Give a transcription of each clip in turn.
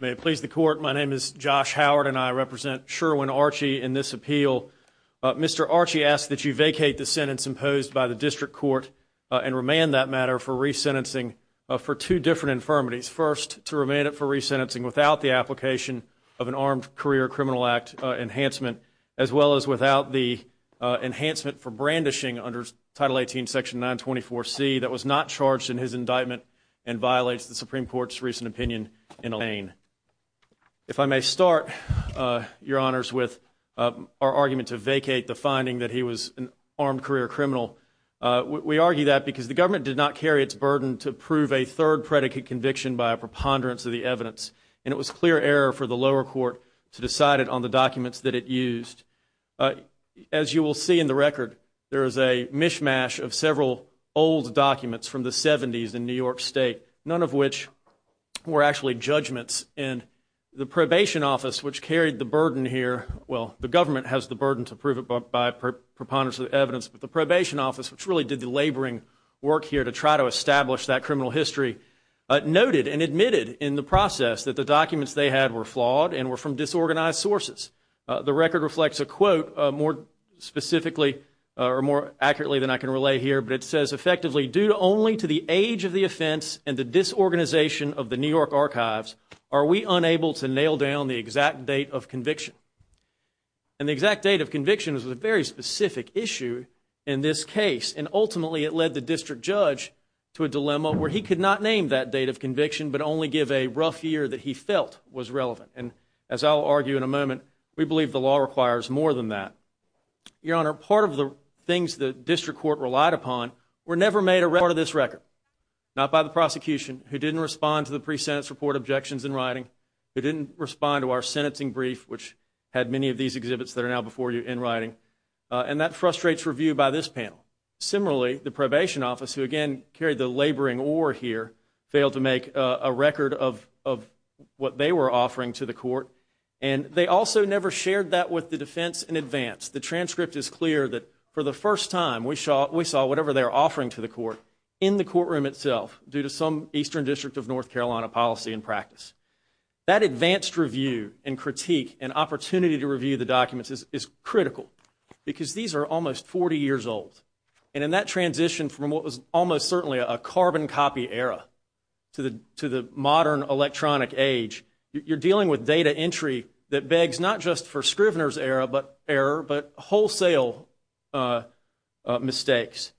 May it please the court, my name is Josh Howard and I represent Sherwin Archie in this appeal. Mr. Archie asks that you vacate the sentence imposed by the district court and remand that matter for resentencing for two different infirmities. First, to remand it for resentencing without the application of an armed career criminal act enhancement, as well as without the enhancement for brandishing under Title 18, Section 924C that was not charged in his indictment and violates the Supreme Court's recent opinion in Alain. If I may start, Your Honors, with our argument to vacate the finding that he was an armed career criminal. We argue that because the government did not carry its burden to prove a third predicate conviction by a preponderance of the evidence and it was clear error for the lower court to decide it on the documents that it used. As you will see in the record, there is a mishmash of several old documents from the 70s in New York State, none of which were actually judgments and the probation office which carried the burden here, well the government has the burden to prove it by preponderance of the evidence, but the probation office which really did the laboring work here to try to establish that criminal history noted and admitted in the process that the documents they had were flawed and were from disorganized sources. The record reflects a quote more specifically or more accurately than I can relay here, but it says effectively, due only to the age of the offense and the disorganization of the New York archives are we unable to nail down the exact date of conviction. And the ultimately it led the district judge to a dilemma where he could not name that date of conviction, but only give a rough year that he felt was relevant. And as I'll argue in a moment, we believe the law requires more than that. Your Honor, part of the things the district court relied upon were never made a record of this record, not by the prosecution who didn't respond to the pre-sentence report objections in writing, who didn't respond to our sentencing brief, which had many of these exhibits that are now before you in the panel. Similarly, the probation office, who again carried the laboring ore here, failed to make a record of what they were offering to the court. And they also never shared that with the defense in advance. The transcript is clear that for the first time we saw whatever they were offering to the court in the courtroom itself due to some eastern district of North Carolina policy and practice. That advanced review and critique and opportunity to review the documents is critical because these are almost 40 years old. And in that transition from what was almost certainly a carbon copy era to the modern electronic age, you're dealing with data entry that begs not just for Scrivener's era, but wholesale mistakes.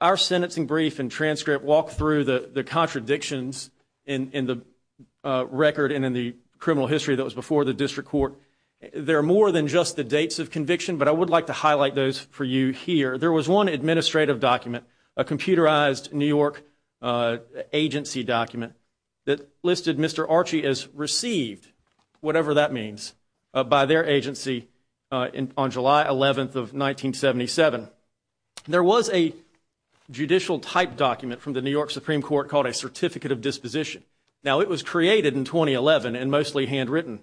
Our sentencing brief and transcript walk through the contradictions in the record and in the criminal history that was before the district court. They're more than just the dates of conviction, but I would like to highlight those for you here. There was one administrative document, a computerized New York agency document that listed Mr. Archie as received, whatever that means, by their agency on July 11th of 1977. There was a judicial type document from the New York Supreme Court called a Certificate of Disposition. Now it was created in 2011 and mostly handwritten,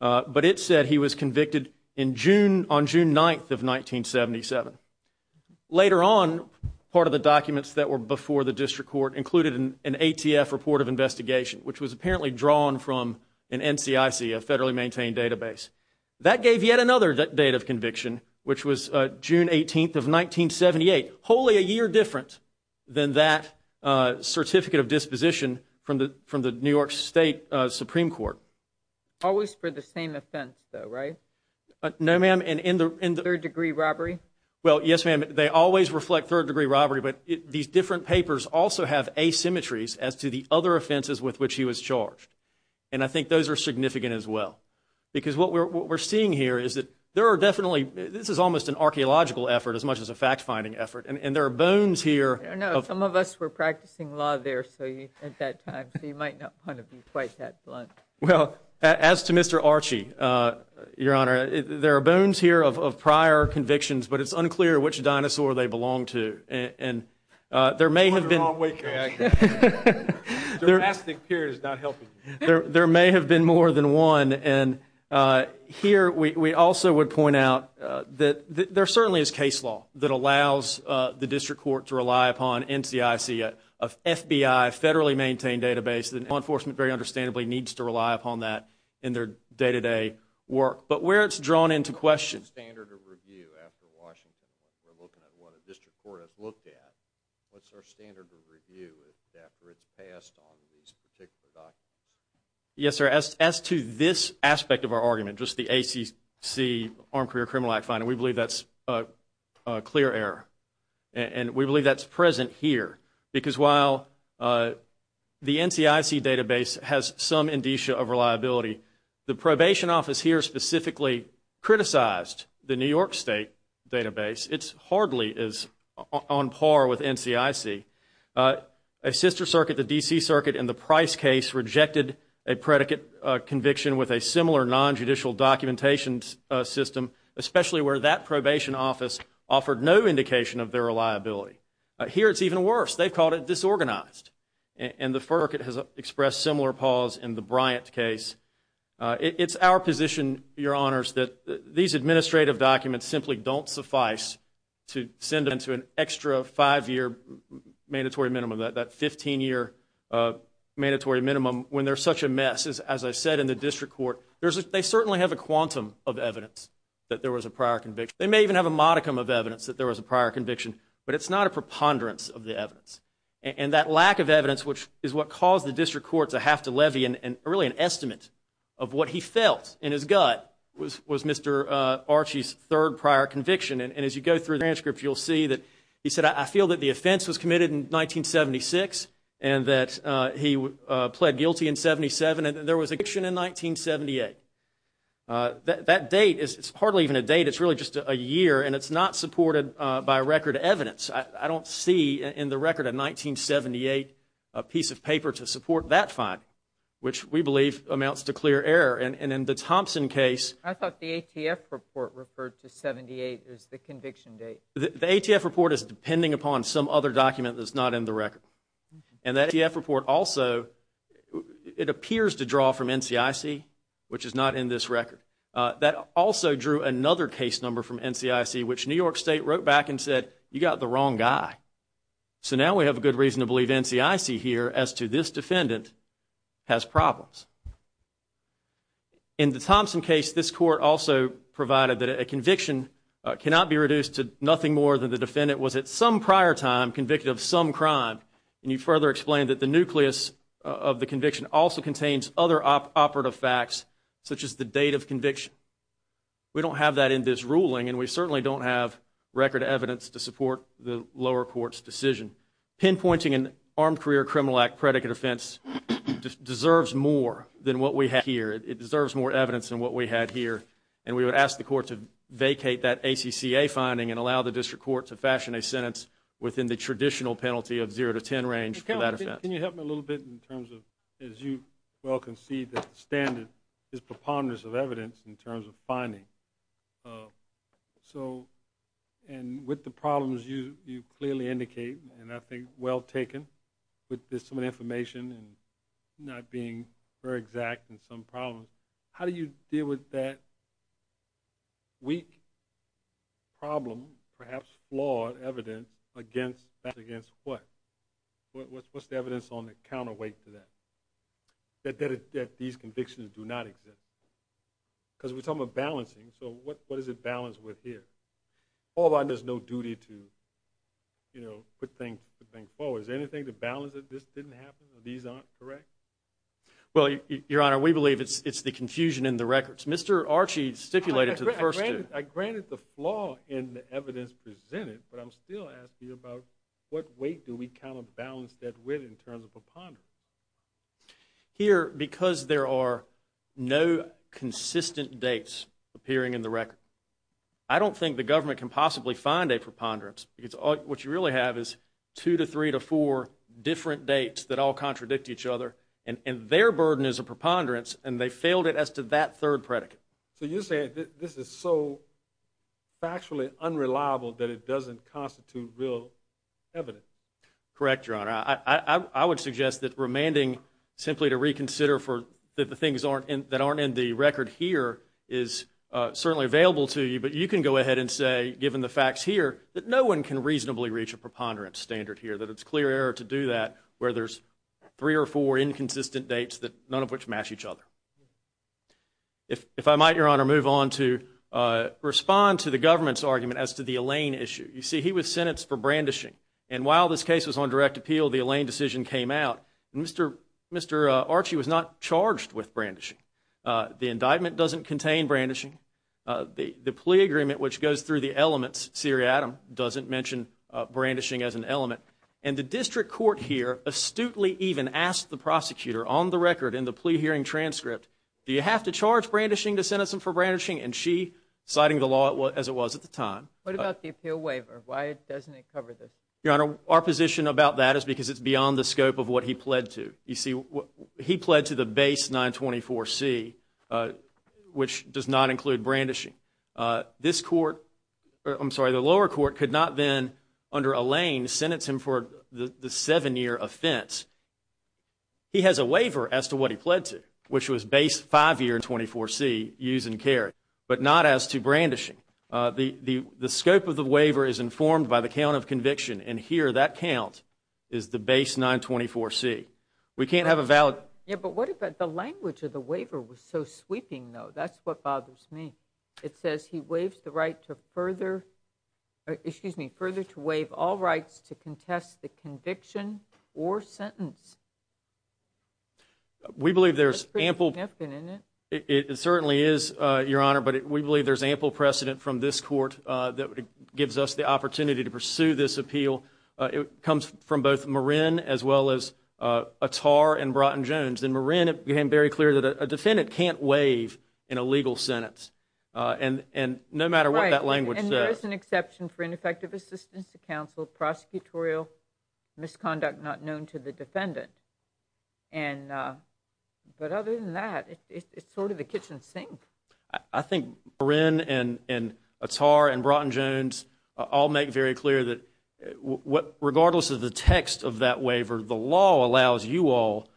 but it said he was convicted on June 9th of 1977. Later on, part of the documents that were before the district court included an ATF report of investigation, which was apparently drawn from an NCIC, a federally maintained database. That gave yet another date of conviction, which was June 18th of 1978, wholly a year different than that Certificate of Disposition from the New York State Supreme Court. Always for the same offense, though, right? No, ma'am. And in the third degree robbery? Well, yes, ma'am. They always reflect third degree robbery, but these different papers also have asymmetries as to the other offenses with which he was charged, and I think those are significant as well. Because what we're seeing here is that there are definitely – this is almost an archeological effort as much as a fact-finding effort, and there are bones here of – I don't know. Some of us were practicing law there at that time, so you might not want to be quite that blunt. Well, as to Mr. Archie, Your Honor, there are bones here of prior convictions, but it's unclear which dinosaur they belonged to, and there may have been – I'm going the wrong way, Chris. Dramatic period is not There may have been more than one, and here we also would point out that there certainly is case law that allows the district court to rely upon NCIC, a FBI, federally maintained database, and law enforcement very understandably needs to rely upon that in their day-to-day work. But where it's drawn into question – What's the standard of review after Washington? We're looking at what a district court has standard of review after it's passed on these particular documents. Yes, sir. As to this aspect of our argument, just the ACC, Armed Career Criminal Act finding, we believe that's a clear error, and we believe that's present here. Because while the NCIC database has some indicia of reliability, the probation office here specifically criticized the New York State database. It hardly is on par with NCIC. A sister circuit, the D.C. Circuit, in the Price case rejected a predicate conviction with a similar non-judicial documentation system, especially where that probation office offered no indication of their reliability. Here it's even worse. They've called it disorganized, and the FERC has expressed similar pause in the Bryant case. It's our position, your honors, that these administrative documents simply don't suffice to send them to an extra five-year mandatory minimum, that 15-year mandatory minimum when they're such a mess. As I said in the district court, they certainly have a quantum of evidence that there was a prior conviction. They may even have a modicum of evidence that there was a prior conviction, but it's not a preponderance of the evidence. That lack of evidence, which is what caused the district court to have to levy an estimate of what he felt in his gut was Mr. Archie's third prior conviction. As you go through the transcript, you'll see that he said, I feel that the offense was committed in 1976 and that he pled guilty in 77, and there was a conviction in 1978. That date is hardly even a date. It's really just a year, and it's not supported by record evidence. I don't see in the record a 1978 piece of paper to support that finding, which we believe amounts to clear error. In the Thompson case... I thought the ATF report referred to 78 as the conviction date. The ATF report is depending upon some other document that's not in the record. That ATF report also, it appears to draw from NCIC, which is not in this record. That also drew another case number from NCIC, which New York State wrote back and said, you got the wrong guy. So now we have a good reason to believe NCIC here as to this defendant has problems. In the Thompson case, this court also provided that a conviction cannot be reduced to nothing more than the defendant was at some prior time convicted of some crime, and you further explain that the nucleus of the conviction also contains other operative facts such as the date of conviction. We don't have that in this ruling, and we certainly don't have record evidence to support the lower court's decision. Pinpointing an Armed Career Criminal Act predicate offense deserves more than what we have here. It deserves more evidence than what we had here, and we would ask the court to vacate that ACCA finding and allow the district court to fashion a sentence within the traditional penalty of zero to ten range for that offense. Can you help me a little bit in terms of, as you well concede that the standard is preponderance of evidence in terms of finding, and with the problems you clearly indicate, and I think well taken, with this information not being very exact in some problems, how do you deal with that weak problem, perhaps flawed evidence, against that against what? What's the evidence on the counterweight to that? That these convictions do not exist? Because we're talking about balancing, so what is it balanced with here? All of a sudden there's no duty to, you know, put things forward. Is there anything to balance that this didn't happen, these aren't correct? Well Your Honor, we believe it's the confusion in the records. Mr. Archie stipulated to the first degree. I granted the flaw in the evidence presented, but I'm still asking you about what weight do we kind of balance that with in terms of preponderance? Here, because there are no consistent dates appearing in the record, I don't think the government can possibly find a preponderance, because what you really have is two to three to four different dates that all contradict each other, and their burden is a preponderance, and they failed it as to that third predicate. So you're saying this is so factually unreliable that it doesn't constitute real evidence? Correct, Your Honor. I would suggest that remanding simply to reconsider that the things aren't in, that aren't in the record here is certainly available to you, but you can go ahead and say, given the facts here, that no one can reasonably reach a preponderance standard here, that it's clear error to do that where there's three or four inconsistent dates that none of which match each other. If I might, Your Honor, move on to respond to the government's argument as to the Elaine issue. You see, he was sentenced for brandishing, and while this case was on direct appeal, the Elaine decision came out, and Mr. Archie was not charged with brandishing. The indictment doesn't contain brandishing. The plea agreement, which goes through the elements, Siri Adam, doesn't mention brandishing as an element. And the district court here astutely even asked the prosecutor on the record in the plea hearing transcript, do you have to charge brandishing to sentence him for brandishing? And she, citing the law as it was at the time What about the appeal waiver? Why doesn't it cover this? Your Honor, our position about that is because it's beyond the scope of what he pled to. You see, he pled to the base 924C, which does not include brandishing. This court, I'm sorry, the lower court could not then, under Elaine, sentence him for the seven-year offense. He has a waiver as to what he pled to, which was base five-year in 24C, use and carry, but not as to brandishing. The scope of the waiver is informed by the count of conviction, and here that count is the base 924C. We can't have a valid Yeah, but what if the language of the waiver was so sweeping, though? That's what bothers me. It says he waives the right to further, excuse me, further to waive all rights to contest the conviction or sentence. That's pretty significant, isn't it? We believe there's ample, it certainly is, Your Honor, but we believe there's ample precedent from this court that gives us the opportunity to pursue this appeal. It comes from both Marin, as well as Attar and Broughton-Jones. In Marin, it became very clear that a defendant can't waive in a legal sentence, and no matter what that language says Right, and there is an exception for ineffective assistance to counsel prosecutorial misconduct not known to the defendant. But other than that, it's sort of the kitchen sink. I think Marin and Attar and Broughton-Jones all make very clear that regardless of the text of that waiver, the law allows you all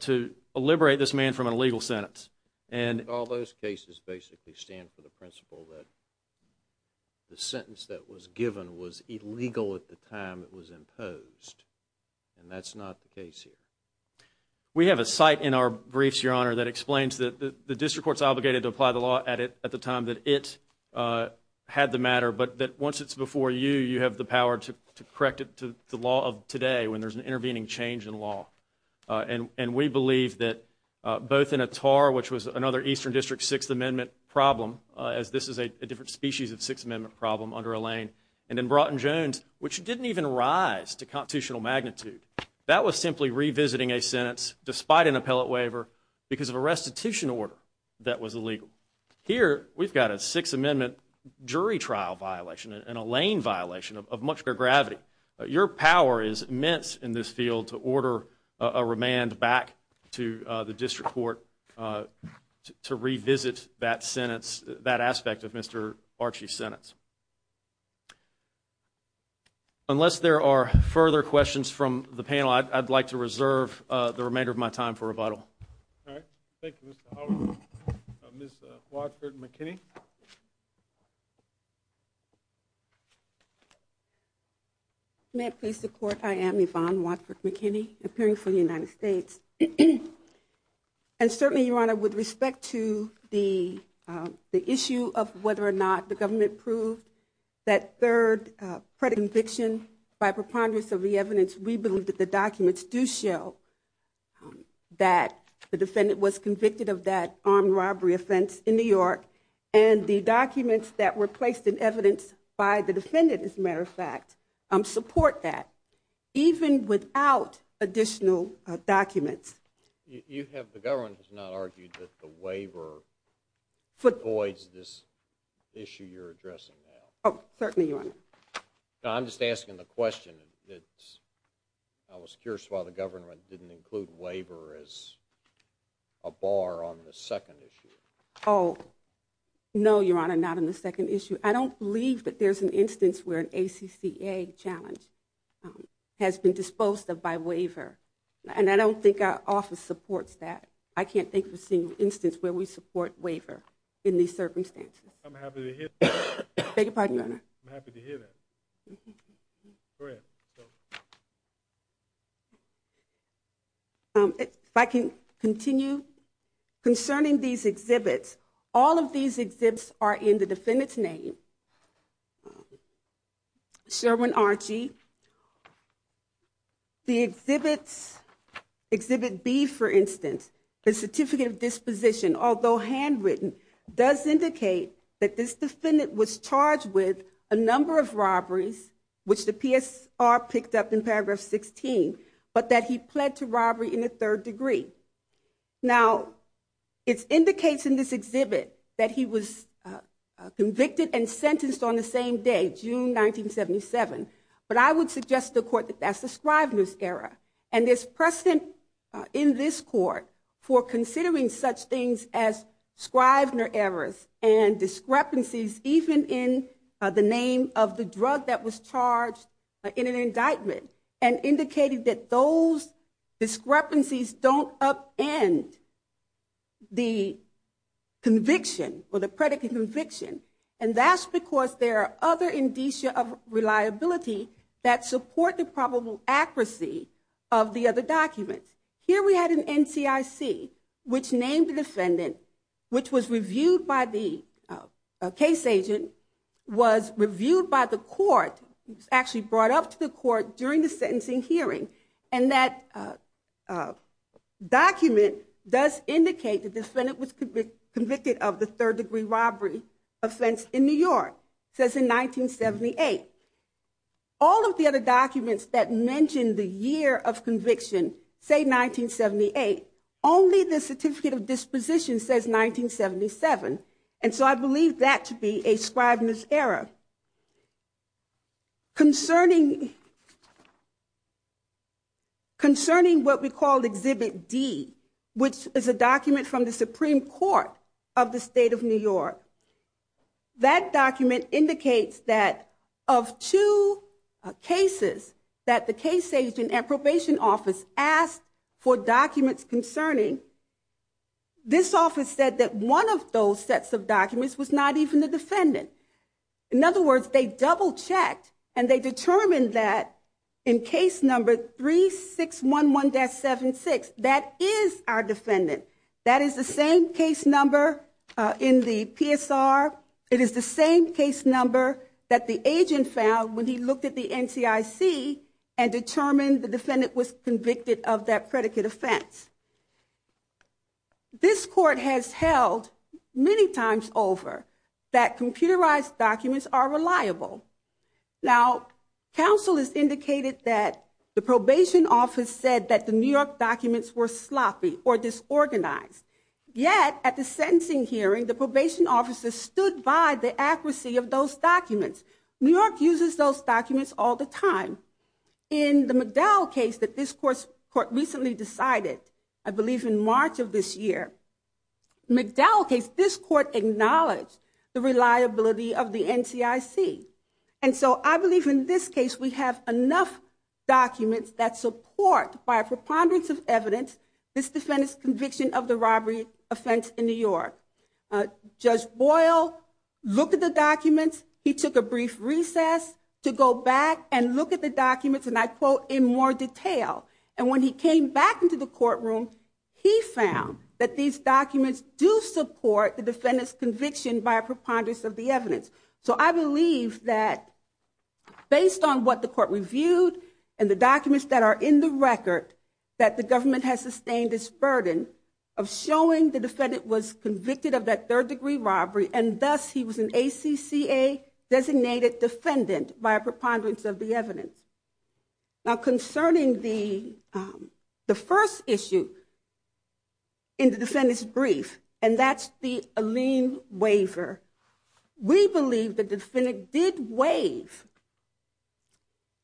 to liberate this man from an illegal sentence. And all those cases basically stand for the principle that the sentence that was given was illegal at the time it was imposed, and that's not the case here. We have a site in our briefs, Your Honor, that explains that the District Court's obligated to apply the law at the time that it had the matter, but that once it's before you, you have the power to correct it to the law of today when there's an intervening change in law. And we believe that both in Attar, which was another Eastern District Sixth Amendment problem, as this is a different species of Sixth Amendment problem under Alain, and in Broughton-Jones, which didn't even rise to constitutional magnitude. That was simply revisiting a sentence despite an appellate waiver because of a restitution order that was illegal. Here, we've got a Sixth Amendment jury trial violation and Alain violation of much greater gravity. Your power is immense in this field to order a remand back to the District Court to revisit that sentence, that aspect of Mr. Archie's sentence. Unless there are further questions from the panel, I'd like to reserve the remainder of my time for rebuttal. All right. Thank you, Mr. Howell. Ms. Watford-McKinney. May it please the Court, I am Yvonne Watford-McKinney, appearing for the United States. And certainly, Your Honor, with respect to the issue of whether or not the government proved that third predicted conviction by preponderance of the evidence, we believe that the documents do show that the defendant was convicted of that armed robbery offense in New York, and the documents that were placed in evidence by the defendant, as a matter of fact, support that. Even without additional documents. You have, the government has not argued that the waiver avoids this issue you're addressing now. Oh, certainly, Your Honor. I'm just asking the question. I was curious why the government didn't include waiver as a bar on the second issue. Oh, no, Your Honor, not on the second issue. I don't believe that there's an instance where an exhibit has been disposed of by waiver, and I don't think our office supports that. I can't think of a single instance where we support waiver in these circumstances. I'm happy to hear that. Thank you, pardon me, Your Honor. I'm happy to hear that. Go ahead. If I can continue. Concerning these exhibits, all of these exhibits are in the defendant's name. Sherwin Archie. The exhibits, exhibit B, for instance, the certificate of disposition, although handwritten, does indicate that this defendant was charged with a number of robberies, which the PSR picked up in paragraph 16, but that he pled to robbery in the third degree. Now, it indicates in this exhibit that he was convicted and sentenced on the same day, June 1977, but I would suggest to the court that that's the Scrivener's era, and there's precedent in this court for considering such things as Scrivener errors and discrepancies, even in the name of the drug that was charged in an indictment, and indicated that those discrepancies don't upend the conviction or the predicate conviction, and that's because there are other indicia of reliability that support the probable accuracy of the other documents. Here we had an NCIC, which named the defendant, which was reviewed by the case agent, was reviewed by the court, actually brought up to the court during the sentencing hearing, and that document does indicate the defendant was convicted of the third degree robbery offense in New York, says in 1978. All of the other documents that mention the year of conviction, say 1978, only the certificate of disposition says 1977, and so I believe that to be a Scrivener's era. Concerning what we call exhibit D, which is a document from the Supreme Court of the state of New York, that document indicates that of two cases that the case agent at probation office asked for documents concerning, this office said that one of those sets of documents was not even the defendant. In other words, they double checked and they determined that in case number 3611-76, that is our defendant. That is the same case number in the PSR, it is the same case number that the agent found when he looked at the NCIC and determined the defendant was convicted of that predicate offense. This court has held many times over that computerized documents are reliable. Now, counsel has indicated that the probation office said that the New York documents were sloppy or disorganized, yet at the sentencing hearing, the probation officer stood by the accuracy of those documents. New York uses those documents all the time. In the McDowell case that this court recently decided, I believe in March of this year, McDowell case, this court acknowledged the reliability of the NCIC. And so I believe in this case, we have enough documents that support by a preponderance of evidence, this defendant's conviction of the robbery offense in New York. Judge Boyle looked at the documents, he took a brief recess to go back and look at the documents, and I quote, in more detail. And when he came back into the courtroom, he found that these documents do support the defendant's conviction by a preponderance of the evidence. So I believe that based on what the court reviewed and the documents that are in the third degree robbery, and thus he was an ACCA designated defendant by a preponderance of the evidence. Now, concerning the first issue in the defendant's brief, and that's the Alene waiver, we believe the defendant did waive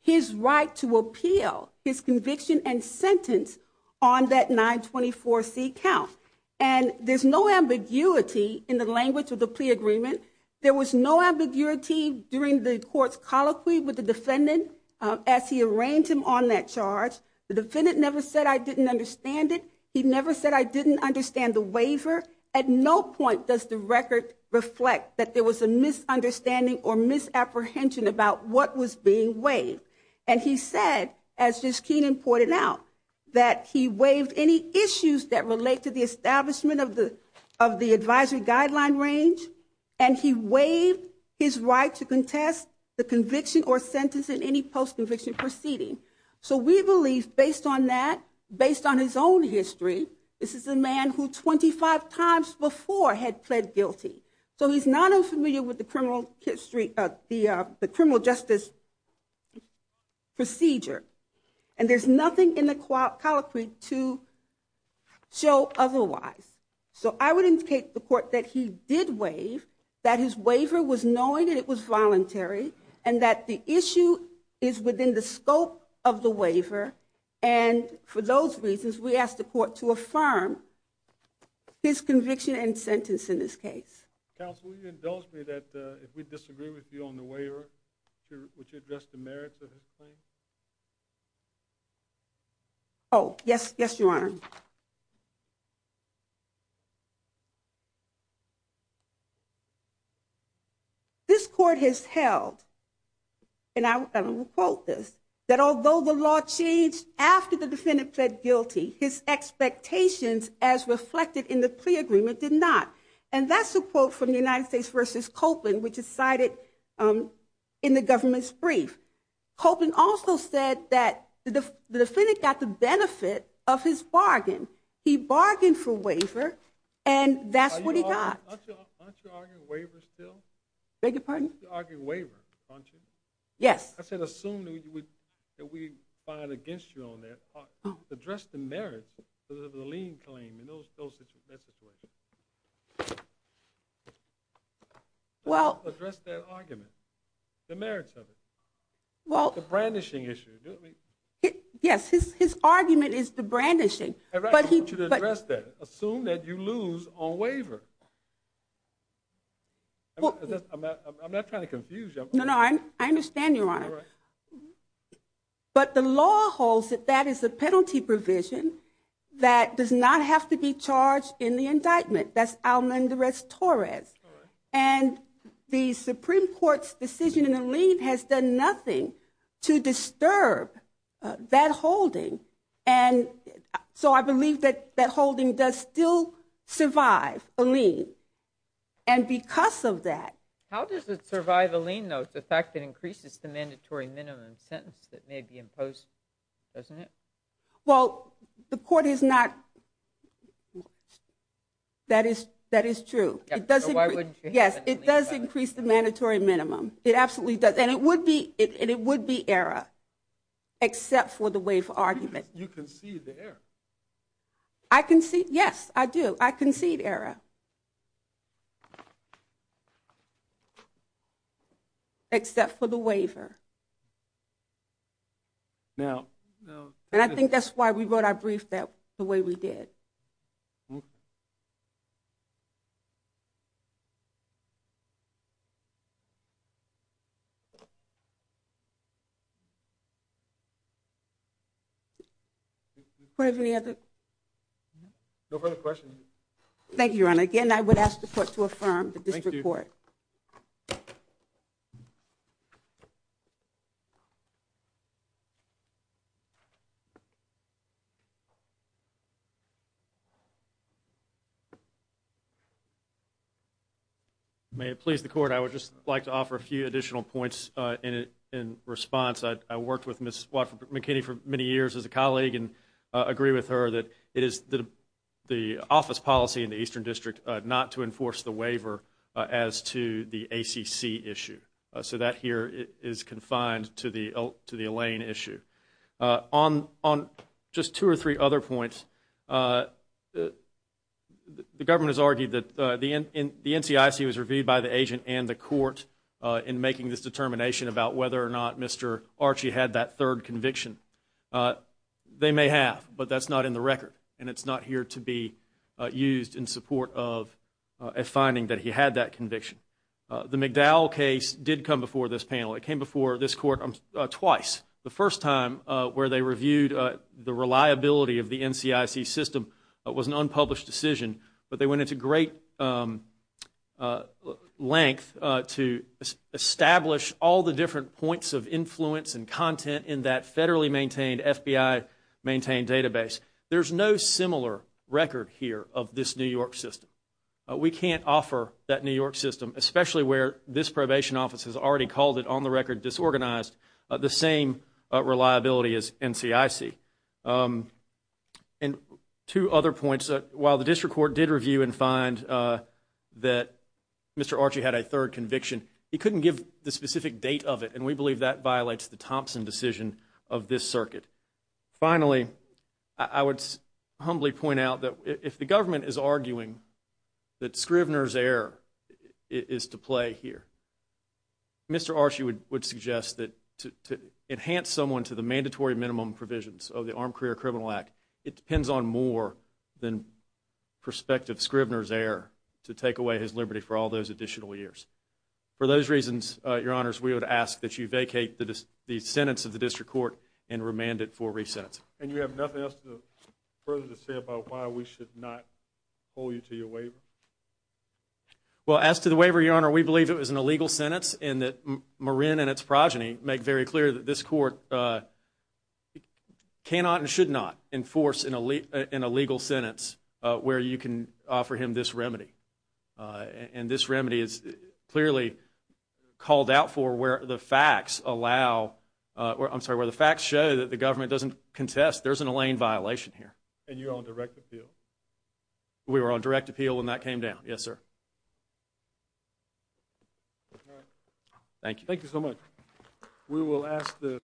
his right to appeal his conviction and sentence on that 924C count. And there's no ambiguity in the language of the plea agreement. There was no ambiguity during the court's colloquy with the defendant as he arranged him on that charge. The defendant never said, I didn't understand it. He never said, I didn't understand the waiver. At no point does the record reflect that there was a misunderstanding or misapprehension about what was being waived. And he said, as Ms. Keenan pointed out, that he waived any issues that relate to the establishment of the advisory guideline range, and he waived his right to contest the conviction or sentence in any post-conviction proceeding. So we believe based on that, based on his own history, this is a man who 25 times before had pled guilty. So he's not unfamiliar with the criminal justice procedure. And there's nothing in the colloquy to show otherwise. So I would indicate to the court that he did waive, that his waiver was knowing and it was voluntary, and that the issue is within the scope of the waiver. And for those reasons, we ask the court to affirm his conviction and sentence in this case. Counsel, will you indulge me that if we disagree with you on the waiver, would you address the merits of his claim? Oh, yes. Yes, Your Honor. This court has held, and I will quote this, that although the law changed after the defendant pled guilty, his expectations as reflected in the plea agreement did not. And that's a quote from the United States versus Copeland, which is cited in the government's brief. Copeland also said that the defendant got the benefit of his bargain. He bargained for waiver, and that's what he got. Aren't you arguing waiver still? Beg your pardon? Aren't you arguing waiver? Aren't you? Yes. I said assume that we find against you on that. Address the merits of the lien claim in that situation. Well, address that argument, the merits of it, the brandishing issue. Yes, his argument is the brandishing. I want you to address that. Assume that you lose on waiver. I'm not trying to confuse you. No, no. I understand, Your Honor. But the law holds that that is a penalty provision that does not have to be charged in the indictment. That's Almendarez-Torres. And the Supreme Court's decision in the lien has done nothing to disturb that holding. And so I believe that that holding does still survive a lien. And because of that. How does it survive a lien, though, the fact that increases the mandatory minimum sentence that may be imposed, doesn't it? Well, the court is not. That is true. Yes, it does increase the mandatory minimum. It absolutely does. And it would be error, except for the waiver argument. You concede the error. I concede. Yes, I do. I concede error. Except for the waiver. Now. And I think that's why we wrote our brief that the way we did. Do we have any other? No further questions. Thank you, Your Honor. Again, I would ask the court to affirm the district court. Thank you. May it please the court. I would just like to offer a few additional points in response. I worked with Mrs. McKinney for many years as a colleague and agree with her that it is the office policy in the Eastern District not to enforce the waiver as to the ACC issue. So that here is confined to the Elaine issue. On just two or three other points, the government has argued that the NCIC was reviewed by the agent and the court in making this determination about whether or not Mr. Archie had that third conviction. They may have, but that's not in the record. And it's not here to be used in support of a finding that he had that conviction. The McDowell case did come before this panel. It came before this court twice. The first time where they reviewed the reliability of the NCIC system was an unpublished decision, but they went into great length to establish all the different points of influence and content in that federally maintained FBI-maintained database. There's no similar record here of this New York system. We can't offer that New York system, especially where this probation office has already called it on the record disorganized, the same reliability as NCIC. And two other points, while the district court did review and find that Mr. Archie had a third conviction, he couldn't give the specific date of it, and we believe that violates the Thompson decision of this circuit. Finally, I would humbly point out that if the government is arguing that Scrivner's error is to play here, Mr. Archie would suggest that to enhance someone to the mandatory minimum provisions of the Armed Career Criminal Act, it depends on more than prospective Scrivner's error to take away his liberty for all those additional years. For those reasons, Your Honors, we would ask that you vacate the sentence of the district court and remand it for re-sentence. And you have nothing else further to say about why we should not hold you to your waiver? Well, as to the waiver, Your Honor, we believe it was an illegal sentence, and that Marin and its progeny make very clear that this court cannot and should not enforce an illegal sentence where you can offer him this remedy. And this remedy is clearly called out for where the facts allow, I'm sorry, where the facts show that the government doesn't contest there's an Elaine violation here. And you're on direct appeal? We were on direct appeal when that came down, yes, sir. All right, thank you. Thank you so much. We will ask the